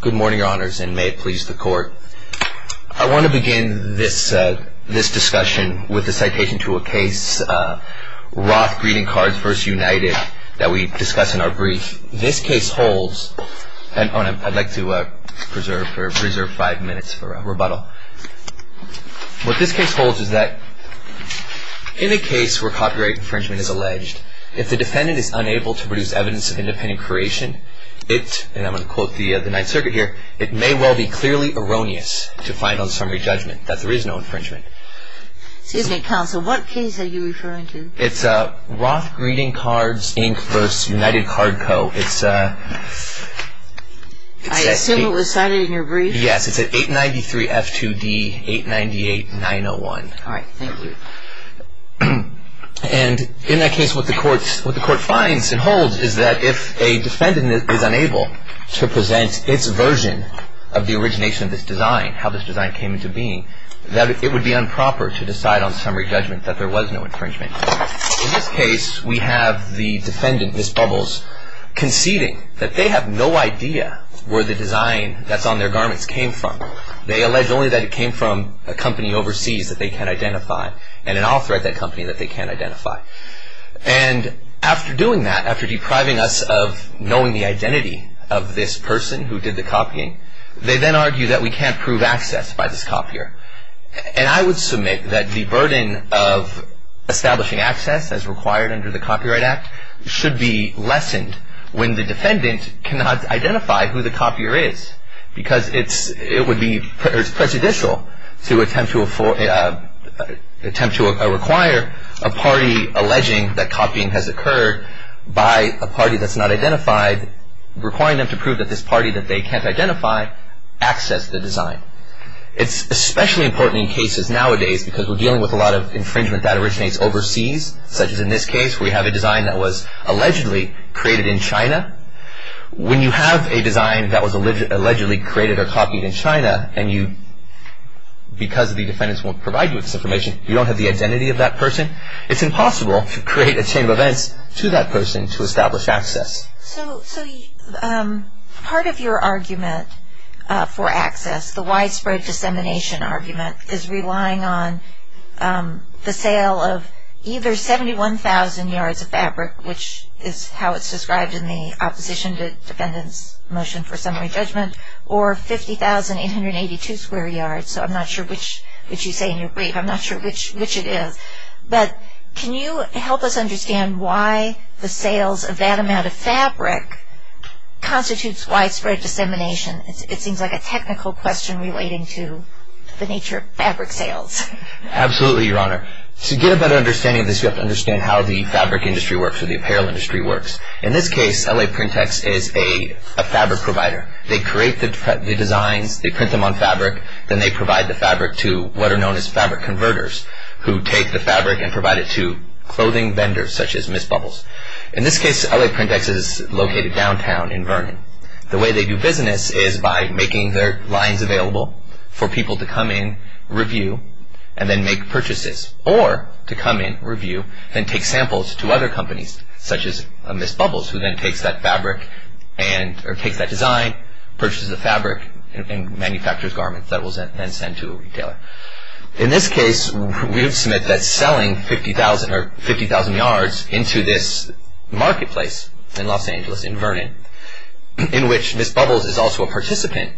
Good morning, Your Honors, and may it please the Court. I want to begin this discussion with a citation to a case, Roth Greeting Cards v. United, that we discuss in our brief. This case holds, and I'd like to preserve five minutes for rebuttal. What this case holds is that in a case where copyright infringement is alleged, if the defendant is unable to produce evidence of independent creation, it, and I'm going to quote the Ninth Circuit here, it may well be clearly erroneous to find on a summary judgment that there is no infringement. Excuse me, Counsel, what case are you referring to? It's Roth Greeting Cards, Inc. v. United Card Co. I assume it was cited in your brief? Yes, it's at 893 F2D 898 901. All right, thank you. And in that case, what the Court finds and holds is that if a defendant is unable to present its version of the origination of this design, how this design came into being, that it would be improper to decide on summary judgment that there was no infringement. In this case, we have the defendant, Ms. Bubbles, conceding that they have no idea where the design that's on their garments came from. They allege only that it came from a company overseas that they can identify, and an author at that company that they can identify. And after doing that, after depriving us of knowing the identity of this person who did the copying, they then argue that we can't prove access by this copier. And I would submit that the burden of establishing access as required under the Copyright Act should be lessened when the defendant cannot identify who the copier is, because it would be presidential to attempt to require a party alleging that copying has occurred by a party that's not identified, requiring them to prove that this party that they can't identify accessed the design. It's especially important in cases nowadays because we're dealing with a lot of infringement that originates overseas, such as in this case where we have a design that was allegedly created in China. When you have a design that was allegedly created or copied in China, and because the defendants won't provide you with this information, you don't have the identity of that person, it's impossible to create a chain of events to that person to establish access. So part of your argument for access, the widespread dissemination argument, is relying on the sale of either 71,000 yards of fabric, which is how it's described in the opposition to the defendant's motion for summary judgment, or 50,882 square yards. So I'm not sure which you say in your brief. I'm not sure which it is. But can you help us understand why the sales of that amount of fabric constitutes widespread dissemination? It seems like a technical question relating to the nature of fabric sales. Absolutely, Your Honor. To get a better understanding of this, you have to understand how the fabric industry works, or the apparel industry works. In this case, L.A. Print X is a fabric provider. They create the designs, they print them on fabric, then they provide the fabric to what are known as fabric converters, who take the fabric and provide it to clothing vendors, such as Miss Bubbles. In this case, L.A. Print X is located downtown in Vernon. The way they do business is by making their lines available for people to come in, review, and then make purchases, or to come in, review, and take samples to other companies, such as Miss Bubbles, who then takes that design, purchases the fabric, and manufactures garments that it will then send to a retailer. In this case, we would submit that selling 50,000 yards into this marketplace in Los Angeles, in Vernon, in which Miss Bubbles is also a participant,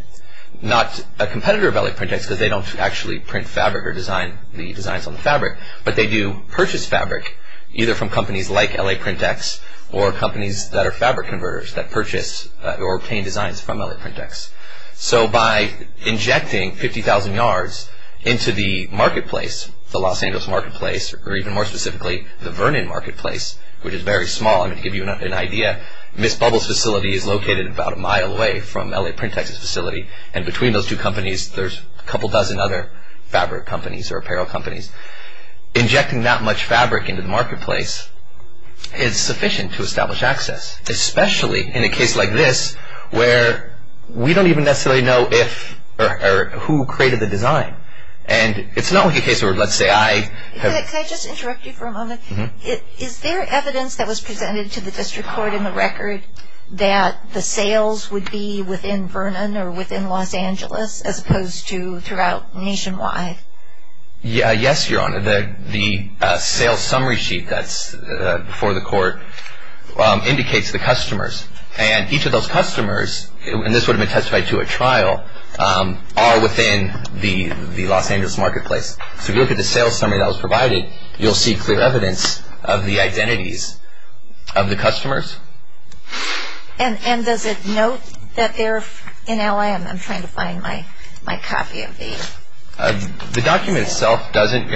not a competitor of L.A. Print X, because they don't actually print fabric or design the designs on the fabric, but they do purchase fabric, either from companies like L.A. Print X, or companies that are fabric converters that purchase or obtain designs from L.A. Print X. So by injecting 50,000 yards into the marketplace, the Los Angeles marketplace, or even more specifically, the Vernon marketplace, which is very small. I'm going to give you an idea. Miss Bubbles facility is located about a mile away from L.A. Print X's facility, and between those two companies, there's a couple dozen other fabric companies or apparel companies. Injecting that much fabric into the marketplace is sufficient to establish access, especially in a case like this, where we don't even necessarily know if or who created the design. And it's not like a case where, let's say, I have- Can I just interrupt you for a moment? Is there evidence that was presented to the district court in the record that the sales would be within Vernon or within Los Angeles, as opposed to throughout nationwide? Yes, Your Honor. The sales summary sheet that's before the court indicates the customers, and each of those customers, and this would have been testified to at trial, are within the Los Angeles marketplace. So if you look at the sales summary that was provided, you'll see clear evidence of the identities of the customers. And does it note that they're in L.A.? I'm trying to find my copy of the- The document itself doesn't-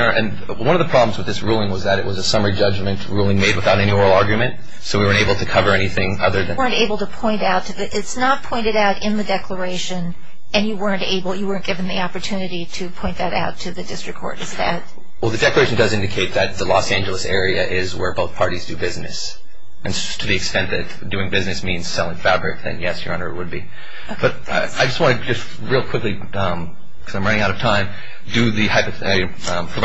One of the problems with this ruling was that it was a summary judgment ruling made without any oral argument, so we weren't able to cover anything other than- You weren't able to point out- It's not pointed out in the declaration, and you weren't given the opportunity to point that out to the district court, is that- Well, the declaration does indicate that the Los Angeles area is where both parties do business. And to the extent that doing business means selling fabric, then yes, Your Honor, it would be. I just want to just real quickly, because I'm running out of time, provide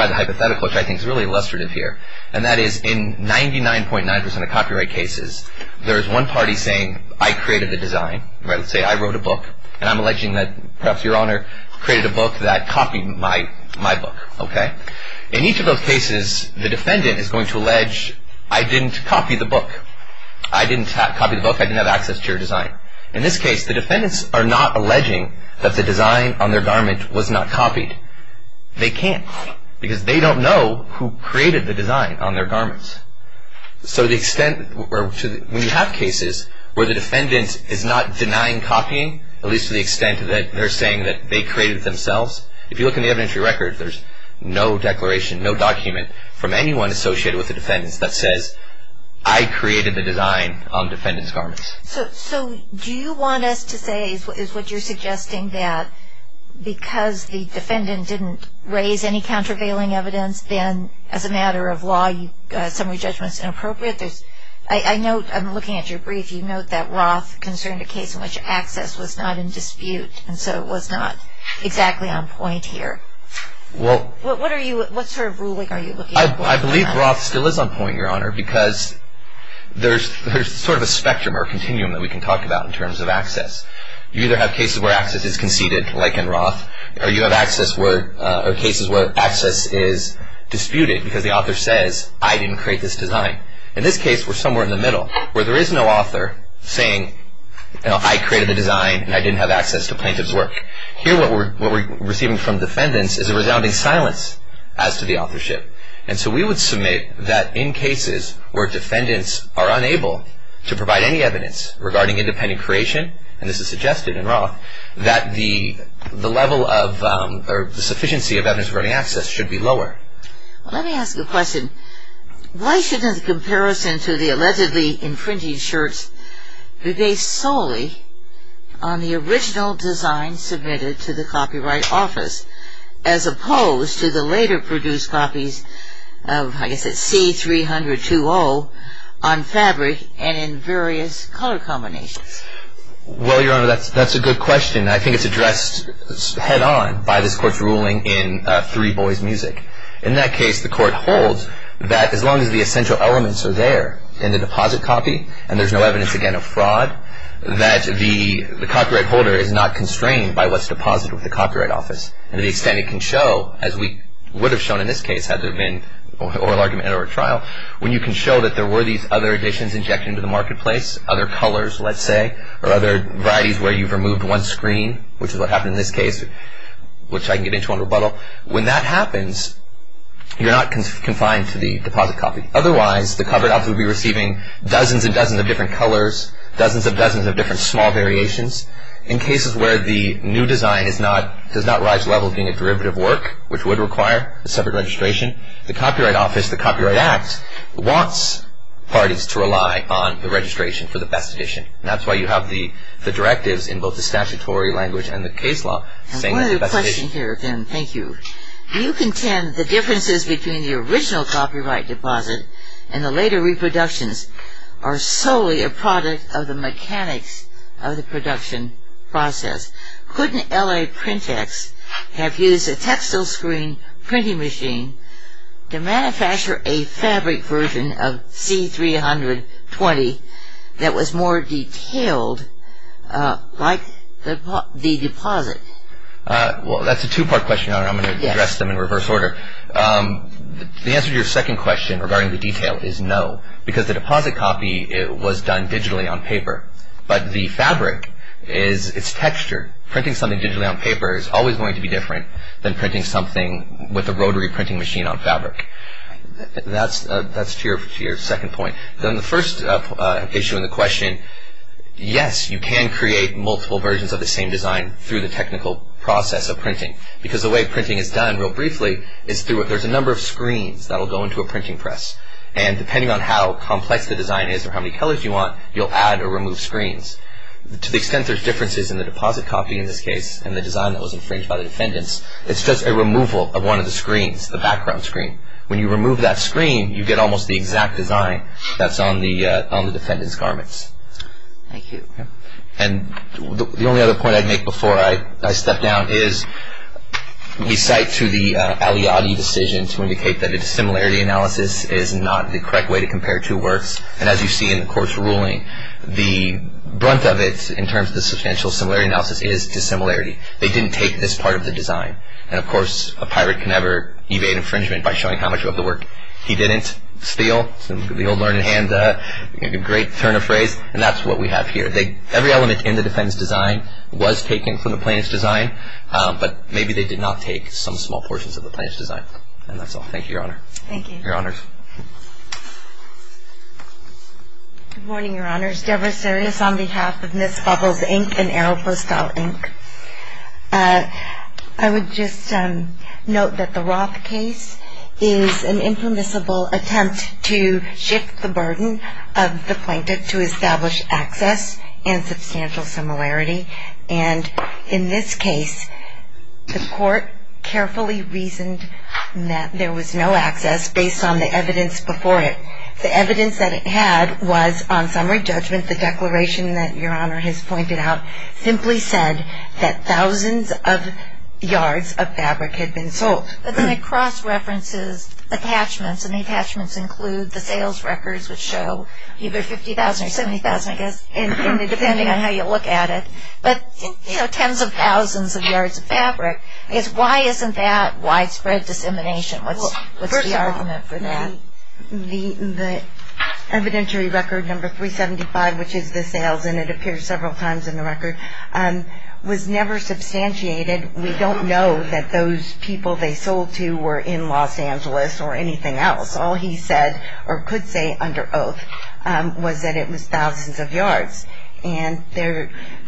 the hypothetical, which I think is really illustrative here, and that is in 99.9% of copyright cases, there is one party saying, I created the design. Let's say I wrote a book, and I'm alleging that perhaps Your Honor created a book that copied my book. In each of those cases, the defendant is going to allege, I didn't copy the book. I didn't copy the book. I didn't have access to your design. In this case, the defendants are not alleging that the design on their garment was not copied. They can't, because they don't know who created the design on their garments. So to the extent- When you have cases where the defendant is not denying copying, at least to the extent that they're saying that they created it themselves, if you look in the evidentiary record, there's no declaration, no document, from anyone associated with the defendants that says, I created the design on defendant's garments. So do you want us to say, is what you're suggesting, that because the defendant didn't raise any countervailing evidence, then as a matter of law, summary judgment is inappropriate? I'm looking at your brief. You note that Roth concerned a case in which access was not in dispute, and so it was not exactly on point here. What sort of ruling are you looking at? I believe Roth still is on point, Your Honor, because there's sort of a spectrum or continuum that we can talk about in terms of access. You either have cases where access is conceded, like in Roth, or you have cases where access is disputed because the author says, I didn't create this design. In this case, we're somewhere in the middle, where there is no author saying, I created the design and I didn't have access to plaintiff's work. Here, what we're receiving from defendants is a resounding silence as to the authorship. And so we would submit that in cases where defendants are unable to provide any evidence regarding independent creation, and this is suggested in Roth, that the level of, or the sufficiency of evidence regarding access should be lower. Let me ask you a question. Why shouldn't the comparison to the allegedly imprinted shirts be based solely on the original design submitted to the Copyright Office, as opposed to the later produced copies of, I guess it's C-30020, on fabric and in various color combinations? Well, Your Honor, that's a good question. I think it's addressed head-on by this Court's ruling in 3 Boys Music. In that case, the Court holds that as long as the essential elements are there in the deposit copy, and there's no evidence, again, of fraud, that the copyright holder is not constrained by what's deposited with the Copyright Office. And to the extent it can show, as we would have shown in this case had there been oral argument or a trial, when you can show that there were these other additions injected into the marketplace, other colors, let's say, or other varieties where you've removed one screen, which is what happened in this case, which I can get into on rebuttal, when that happens, you're not confined to the deposit copy. Otherwise, the Copyright Office would be receiving dozens and dozens of different colors, dozens and dozens of different small variations. In cases where the new design does not rise to the level of being a derivative work, which would require a separate registration, the Copyright Office, the Copyright Act, wants parties to rely on the registration for the best addition. And that's why you have the directives in both the statutory language and the case law saying that the best addition... and the later reproductions are solely a product of the mechanics of the production process. Couldn't LA PrintEx have used a textile screen printing machine to manufacture a fabric version of C-320 that was more detailed like the deposit? Well, that's a two-part question, Your Honor. I'm going to address them in reverse order. The answer to your second question regarding the detail is no, because the deposit copy was done digitally on paper. But the fabric is... it's texture. Printing something digitally on paper is always going to be different than printing something with a rotary printing machine on fabric. That's to your second point. Then the first issue in the question, yes, you can create multiple versions of the same design through the technical process of printing, because the way printing is done, real briefly, is through... there's a number of screens that will go into a printing press. And depending on how complex the design is or how many colors you want, you'll add or remove screens. To the extent there's differences in the deposit copy in this case and the design that was infringed by the defendants, it's just a removal of one of the screens, the background screen. When you remove that screen, you get almost the exact design that's on the defendant's garments. Thank you. And the only other point I'd make before I step down is we cite to the Aliadi decision to indicate that a dissimilarity analysis is not the correct way to compare two works. And as you see in the court's ruling, the brunt of it in terms of the substantial similarity analysis is dissimilarity. They didn't take this part of the design. And of course, a pirate can never evade infringement by showing how much of the work he didn't steal. The old learned hand, a great turn of phrase. And that's what we have here. Every element in the defendant's design was taken from the plaintiff's design, but maybe they did not take some small portions of the plaintiff's design. And that's all. Thank you, Your Honor. Thank you. Your Honors. Good morning, Your Honors. Debra Sarias on behalf of Miss Bubbles, Inc. and Aeropostale, Inc. I would just note that the Roth case is an impermissible attempt to shift the burden of the plaintiff to establish access and substantial similarity. And in this case, the court carefully reasoned that there was no access based on the evidence before it. The evidence that it had was, on summary judgment, the declaration that Your Honor has pointed out simply said that thousands of yards of fabric had been sold. But then it cross-references attachments, and the attachments include the sales records, which show either 50,000 or 70,000, I guess, depending on how you look at it. But, you know, tens of thousands of yards of fabric. Why isn't that widespread dissemination? What's the argument for that? The evidentiary record number 375, which is the sales, and it appears several times in the record, was never substantiated. We don't know that those people they sold to were in Los Angeles or anything else. All he said, or could say under oath, was that it was thousands of yards. And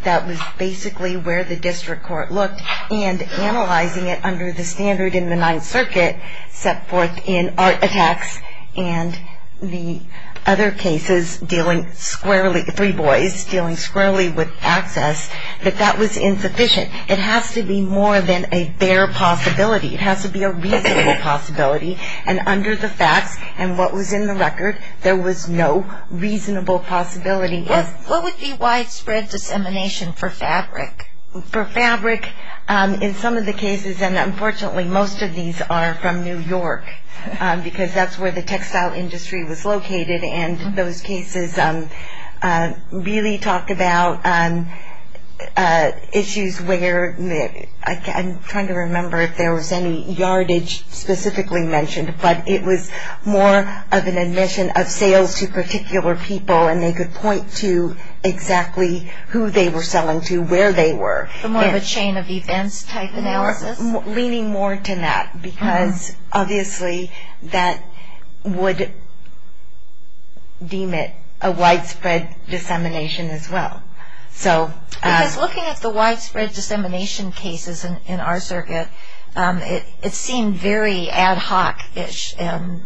that was basically where the district court looked. And analyzing it under the standard in the Ninth Circuit set forth in Art Attacks and the other cases dealing squarely, the three boys dealing squarely with access, that that was insufficient. It has to be more than a bare possibility. It has to be a reasonable possibility. And under the facts and what was in the record, there was no reasonable possibility. What would be widespread dissemination for fabric? For fabric, in some of the cases, and unfortunately most of these are from New York, because that's where the textile industry was located, and those cases really talk about issues where, I'm trying to remember if there was any yardage specifically mentioned, but it was more of an admission of sales to particular people, and they could point to exactly who they were selling to, where they were. More of a chain of events type analysis? Leaning more to that, because obviously that would deem it a widespread dissemination as well. Because looking at the widespread dissemination cases in our circuit, it seemed very ad hoc-ish, and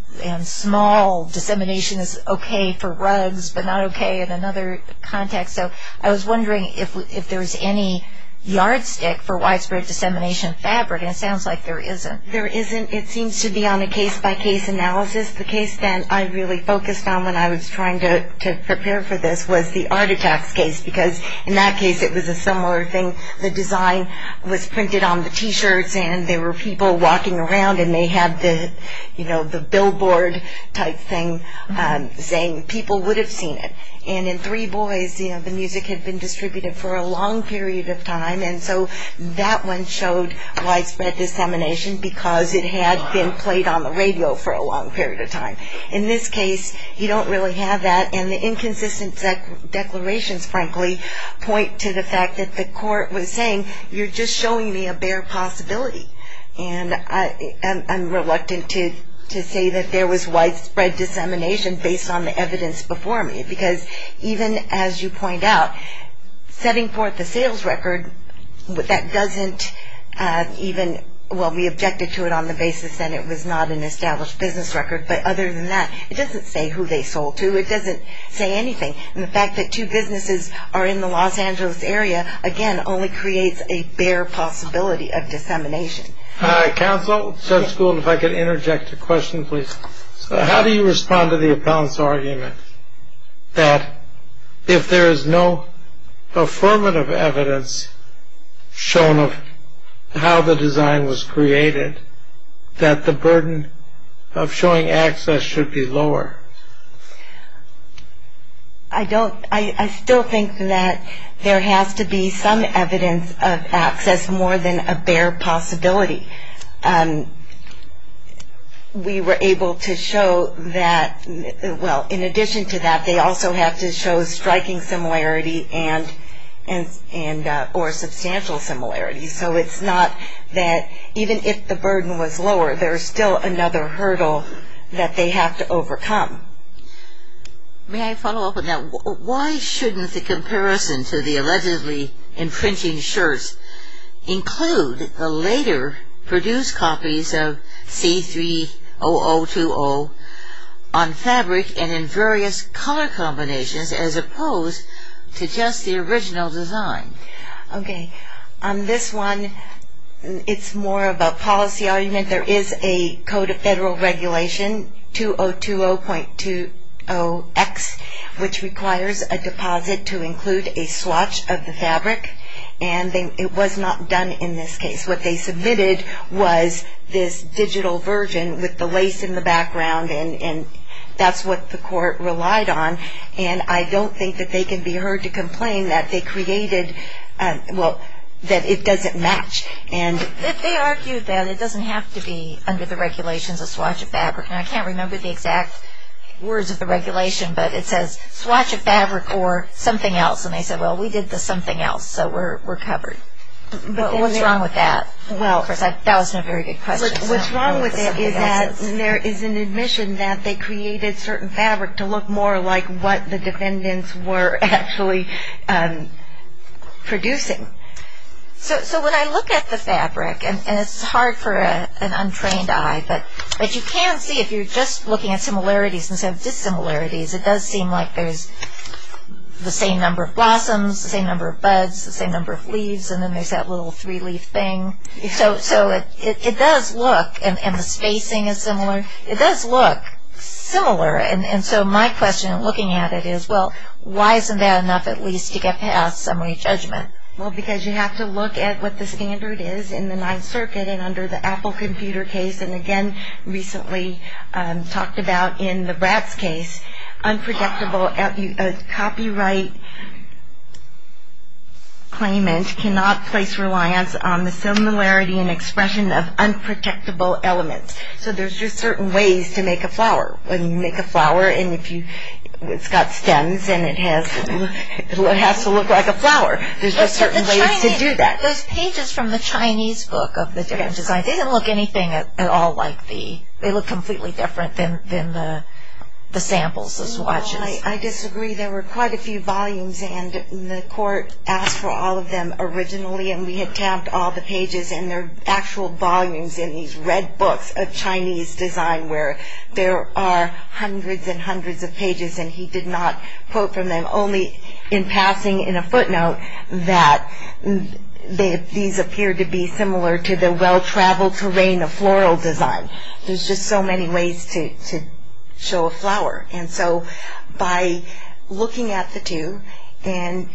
small dissemination is okay for rugs, but not okay in another context. So I was wondering if there was any yardstick for widespread dissemination of fabric, and it sounds like there isn't. There isn't. It seems to be on a case-by-case analysis. The case that I really focused on when I was trying to prepare for this was the Art Attacks case, because in that case it was a similar thing. The design was printed on the T-shirts, and there were people walking around, and they had the billboard type thing saying people would have seen it. And in three boys, the music had been distributed for a long period of time, and so that one showed widespread dissemination because it had been played on the radio for a long period of time. In this case, you don't really have that, and the inconsistent declarations, frankly, point to the fact that the court was saying you're just showing me a bare possibility, and I'm reluctant to say that there was widespread dissemination based on the evidence before me, because even as you point out, setting forth a sales record, that doesn't even – well, we objected to it on the basis that it was not an established business record, but other than that, it doesn't say who they sold to. It doesn't say anything. And the fact that two businesses are in the Los Angeles area, again, only creates a bare possibility of dissemination. Counsel, Judge Gould, if I could interject a question, please. How do you respond to the appellant's argument that if there is no affirmative evidence shown of how the design was created, that the burden of showing access should be lower? I don't – I still think that there has to be some evidence of access more than a bare possibility. We were able to show that – well, in addition to that, they also have to show striking similarity and – or substantial similarity. So it's not that even if the burden was lower, there's still another hurdle that they have to overcome. May I follow up on that? Why shouldn't the comparison to the allegedly imprinting shirts include the later produced copies of C30020 on fabric and in various color combinations as opposed to just the original design? Okay. On this one, it's more of a policy argument. There is a code of federal regulation, 2020.20X, which requires a deposit to include a swatch of the fabric, and it was not done in this case. What they submitted was this digital version with the lace in the background, and that's what the court relied on. And I don't think that they can be heard to complain that they created – well, that it doesn't match. They argued that it doesn't have to be under the regulations of swatch of fabric. And I can't remember the exact words of the regulation, but it says, And they said, well, we did the something else, so we're covered. But what's wrong with that? That was a very good question. What's wrong with it is that there is an admission that they created certain fabric to look more like what the defendants were actually producing. So when I look at the fabric, and it's hard for an untrained eye, but you can see if you're just looking at similarities instead of dissimilarities, it does seem like there's the same number of blossoms, the same number of buds, the same number of leaves, and then there's that little three-leaf thing. So it does look – and the spacing is similar – it does look similar. And so my question in looking at it is, well, why isn't that enough at least to get past summary judgment? Well, because you have to look at what the standard is in the Ninth Circuit, and under the Apple computer case, and again recently talked about in the Bratz case, unprotectable copyright claimant cannot place reliance on the similarity and expression of unprotectable elements. So there's just certain ways to make a flower. When you make a flower and it's got stems and it has to look like a flower, there's just certain ways to do that. But those pages from the Chinese book of the different designs, they didn't look anything at all like the – they looked completely different than the samples, the swatches. Well, I disagree. There were quite a few volumes, and the court asked for all of them originally, and we had tabbed all the pages, and there are actual volumes in these red books of Chinese design where there are hundreds and hundreds of pages, and he did not quote from them, only in passing in a footnote that these appear to be similar to the well-traveled terrain of floral design. There's just so many ways to show a flower. And so by looking at the two and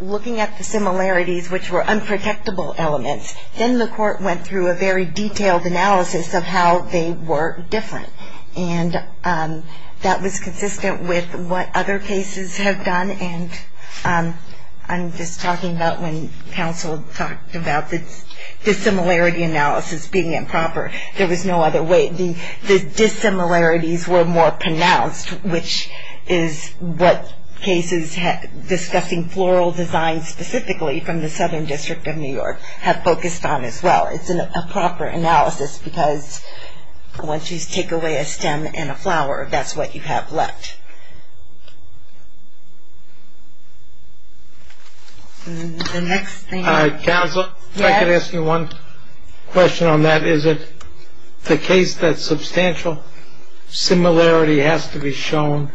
looking at the similarities, which were unprotectable elements, then the court went through a very detailed analysis of how they were different, and that was consistent with what other cases have done, and I'm just talking about when counsel talked about the dissimilarity analysis being improper. There was no other way. The dissimilarities were more pronounced, which is what cases discussing floral design specifically from the Southern District of New York have focused on as well. It's a proper analysis because once you take away a stem and a flower, that's what you have left. The next thing is... Counsel, if I could ask you one question on that. Is it the case that substantial similarity has to be shown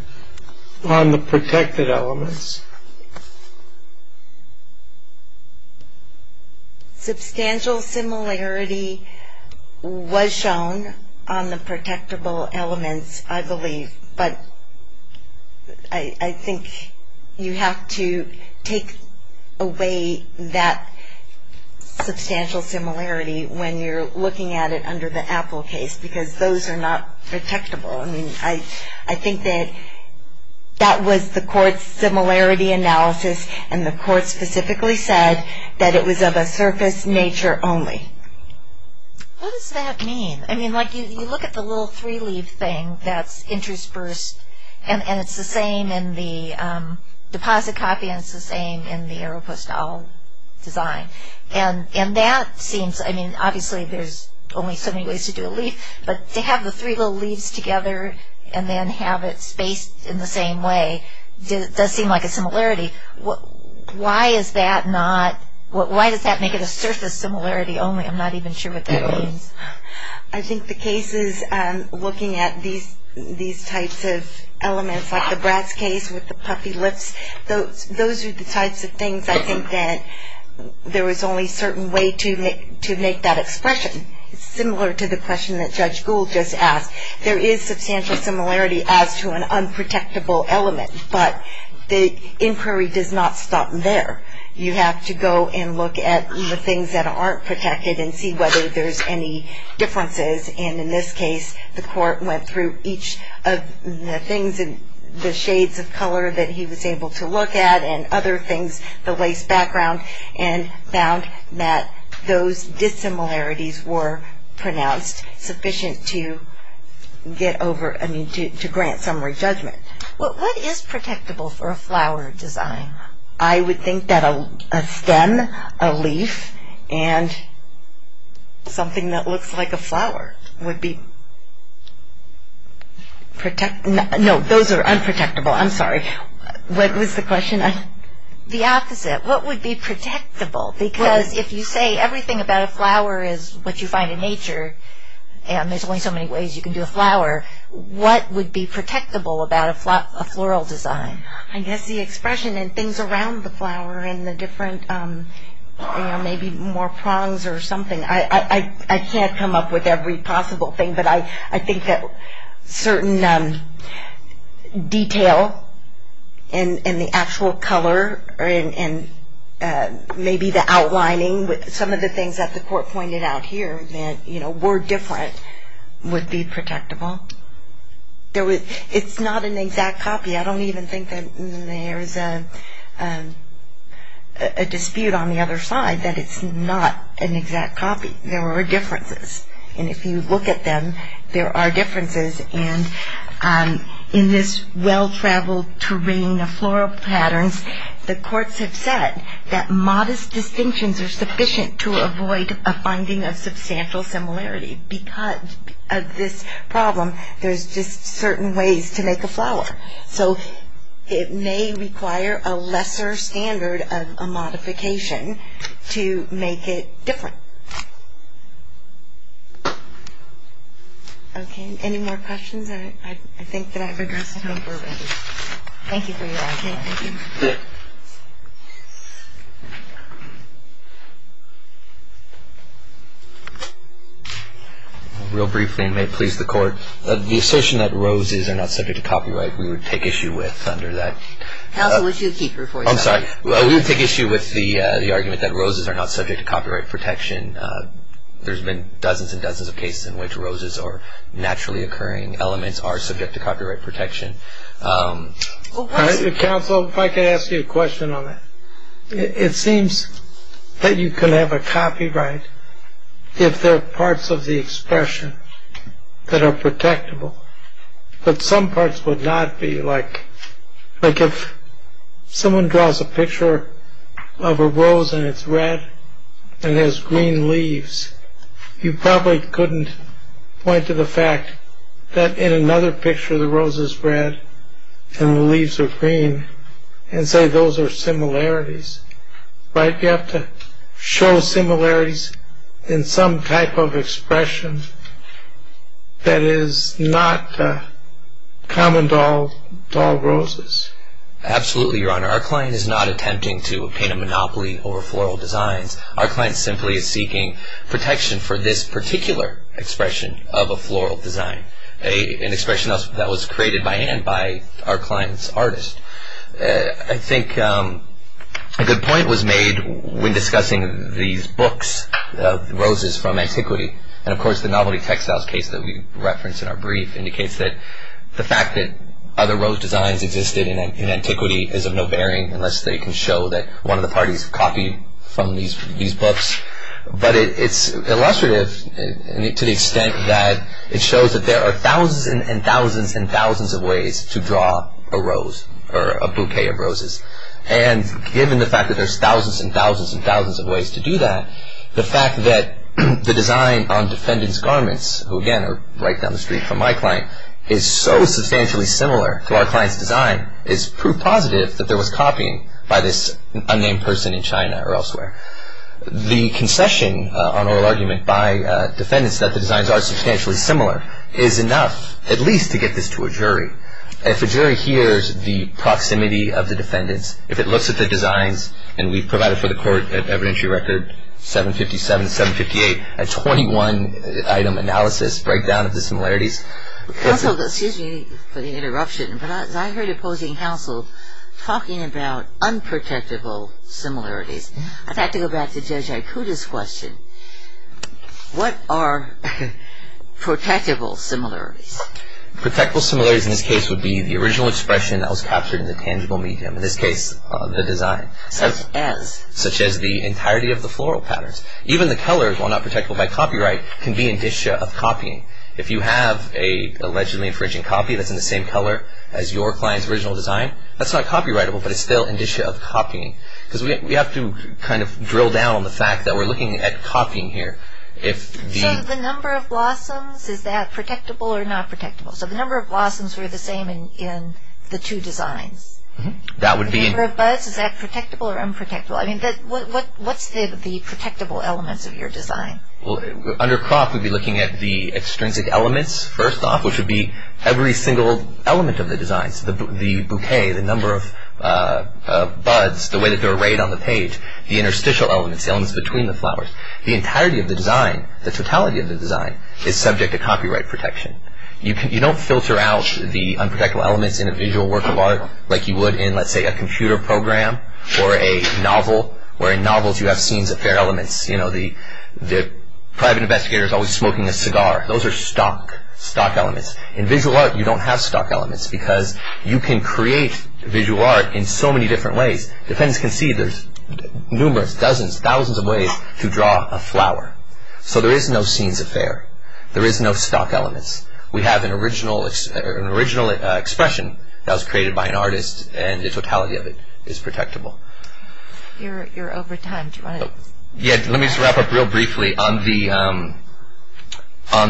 on the protected elements? Substantial similarity was shown on the protectable elements, I believe, but I think you have to take away that substantial similarity when you're looking at it under the Apple case because those are not protectable. I mean, I think that that was the court's similarity analysis, and the court specifically said that it was of a surface nature only. What does that mean? I mean, like, you look at the little three-leaf thing that's interspersed, and it's the same in the deposit copy and it's the same in the Aeropostale design, and that seems... I mean, obviously, there's only so many ways to do a leaf, but to have the three little leaves together and then have it spaced in the same way does seem like a similarity. Why is that not... Why does that make it a surface similarity only? I'm not even sure what that means. I think the cases looking at these types of elements, like the Bratz case with the puffy lips, those are the types of things I think that there was only a certain way to make that expression. It's similar to the question that Judge Gould just asked. There is substantial similarity as to an unprotectable element, but the inquiry does not stop there. You have to go and look at the things that aren't protected and see whether there's any differences, and in this case, the court went through each of the things, the shades of color that he was able to look at and other things, the lace background, and found that those dissimilarities were pronounced sufficient to get over... I mean, to grant summary judgment. Well, what is protectable for a flower design? I would think that a stem, a leaf, and something that looks like a flower would be... No, those are unprotectable. I'm sorry. What was the question? The opposite. What would be protectable? Because if you say everything about a flower is what you find in nature, and there's only so many ways you can do a flower, what would be protectable about a floral design? I guess the expression and things around the flower and the different... maybe more prongs or something. I can't come up with every possible thing, but I think that certain detail in the actual color and maybe the outlining with some of the things that the court pointed out here that were different would be protectable. It's not an exact copy. I don't even think that there's a dispute on the other side that it's not an exact copy. There are differences. And if you look at them, there are differences. And in this well-traveled terrain of floral patterns, the courts have said that modest distinctions are sufficient to avoid a finding of substantial similarity. Because of this problem, there's just certain ways to make a flower. So it may require a lesser standard of modification to make it different. Okay. Any more questions I think that I've addressed? I think we're ready. Thank you for your time. Thank you. Real briefly, and may it please the court, the assertion that roses are not subject to copyright, we would take issue with under that. Counsel, would you keep your voice up? I'm sorry. We would take issue with the argument that roses are not subject to copyright protection. There's been dozens and dozens of cases in which roses or naturally occurring elements are subject to copyright protection. Counsel, if I could ask you a question on that. It seems that you can have a copyright if there are parts of the expression that are protectable. But some parts would not be. Like if someone draws a picture of a rose and it's red and has green leaves, you probably couldn't point to the fact that in another picture the rose is red and the leaves are green and say those are similarities. Right? You have to show similarities in some type of expression that is not common to all roses. Absolutely, Your Honor. Our client is not attempting to paint a monopoly over floral designs. Our client simply is seeking protection for this particular expression of a floral design, an expression that was created by hand by our client's artist. I think a good point was made when discussing these books of roses from antiquity. And, of course, the novelty textiles case that we referenced in our brief indicates that the fact that other rose designs existed in antiquity is of no bearing unless they can show that one of the parties copied from these books. But it's illustrative to the extent that it shows that there are thousands and thousands and thousands of ways to draw a rose or a bouquet of roses. And given the fact that there's thousands and thousands and thousands of ways to do that, the fact that the design on defendant's garments, who again are right down the street from my client, is so substantially similar to our client's design is proof positive that there was copying by this unnamed person in China or elsewhere. The concession on oral argument by defendants that the designs are substantially similar is enough at least to get this to a jury. If a jury hears the proximity of the defendants, if it looks at the designs, and we've provided for the court at evidentiary record 757, 758, a 21-item analysis, breakdown of the similarities. Counsel, excuse me for the interruption, but I heard opposing counsel talking about unprotectable similarities. I'd like to go back to Judge Aikuda's question. What are protectable similarities? Protectable similarities in this case would be the original expression that was captured in the tangible medium. In this case, the design. Such as? Such as the entirety of the floral patterns. Even the colors, while not protectable by copyright, can be an issue of copying. If you have an allegedly infringing copy that's in the same color as your client's original design, that's not copyrightable, but it's still an issue of copying. Because we have to kind of drill down on the fact that we're looking at copying here. So the number of blossoms, is that protectable or not protectable? So the number of blossoms were the same in the two designs. The number of buds, is that protectable or unprotectable? I mean, what's the protectable elements of your design? Under crop, we'd be looking at the extrinsic elements first off, which would be every single element of the designs. The bouquet, the number of buds, the way that they're arrayed on the page, the interstitial elements, the elements between the flowers. The entirety of the design, the totality of the design, is subject to copyright protection. You don't filter out the unprotectable elements in a visual work of art like you would in, let's say, a computer program or a novel, where in novels you have scenes that bear elements. You know, the private investigator is always smoking a cigar. Those are stock elements. In visual art, you don't have stock elements, because you can create visual art in so many different ways. Defendants can see there's numerous, dozens, thousands of ways to draw a flower. So there is no scenes that bear. There is no stock elements. We have an original expression that was created by an artist, and the totality of it is protectable. You're over time. Yeah, let me just wrap up real briefly on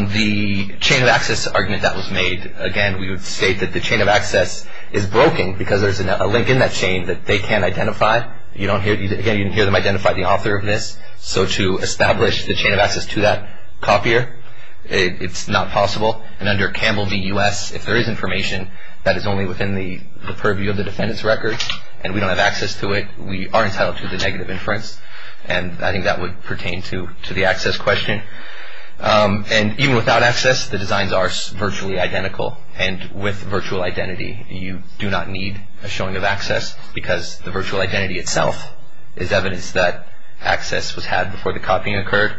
the chain of access argument that was made. Again, we would state that the chain of access is broken because there's a link in that chain that they can't identify. Again, you can hear them identify the author of this. So to establish the chain of access to that copier, it's not possible. And under Campbell v. U.S., if there is information that is only within the purview of the defendant's record and we don't have access to it, we are entitled to the negative inference. And I think that would pertain to the access question. And even without access, the designs are virtually identical. And with virtual identity, you do not need a showing of access, because the virtual identity itself is evidence that access was had before the copying occurred.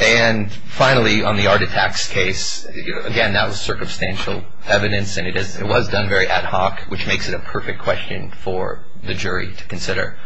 And finally, on the art attacks case, again, that was circumstantial evidence, and it was done very ad hoc, which makes it a perfect question for the jury to consider.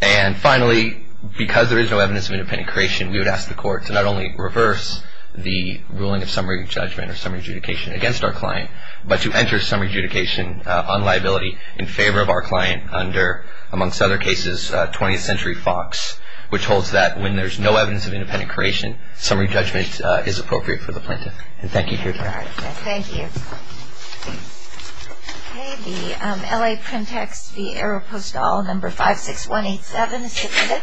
And finally, because there is no evidence of independent creation, we would ask the court to not only reverse the ruling of summary judgment or summary adjudication against our client, but to enter summary adjudication on liability in favor of our client under, amongst other cases, 20th Century Fox, which holds that when there's no evidence of independent creation, summary judgment is appropriate for the plaintiff. And thank you for your time. Thank you. Okay, the L.A. print text, the AeroPostal, number 56187 is submitted.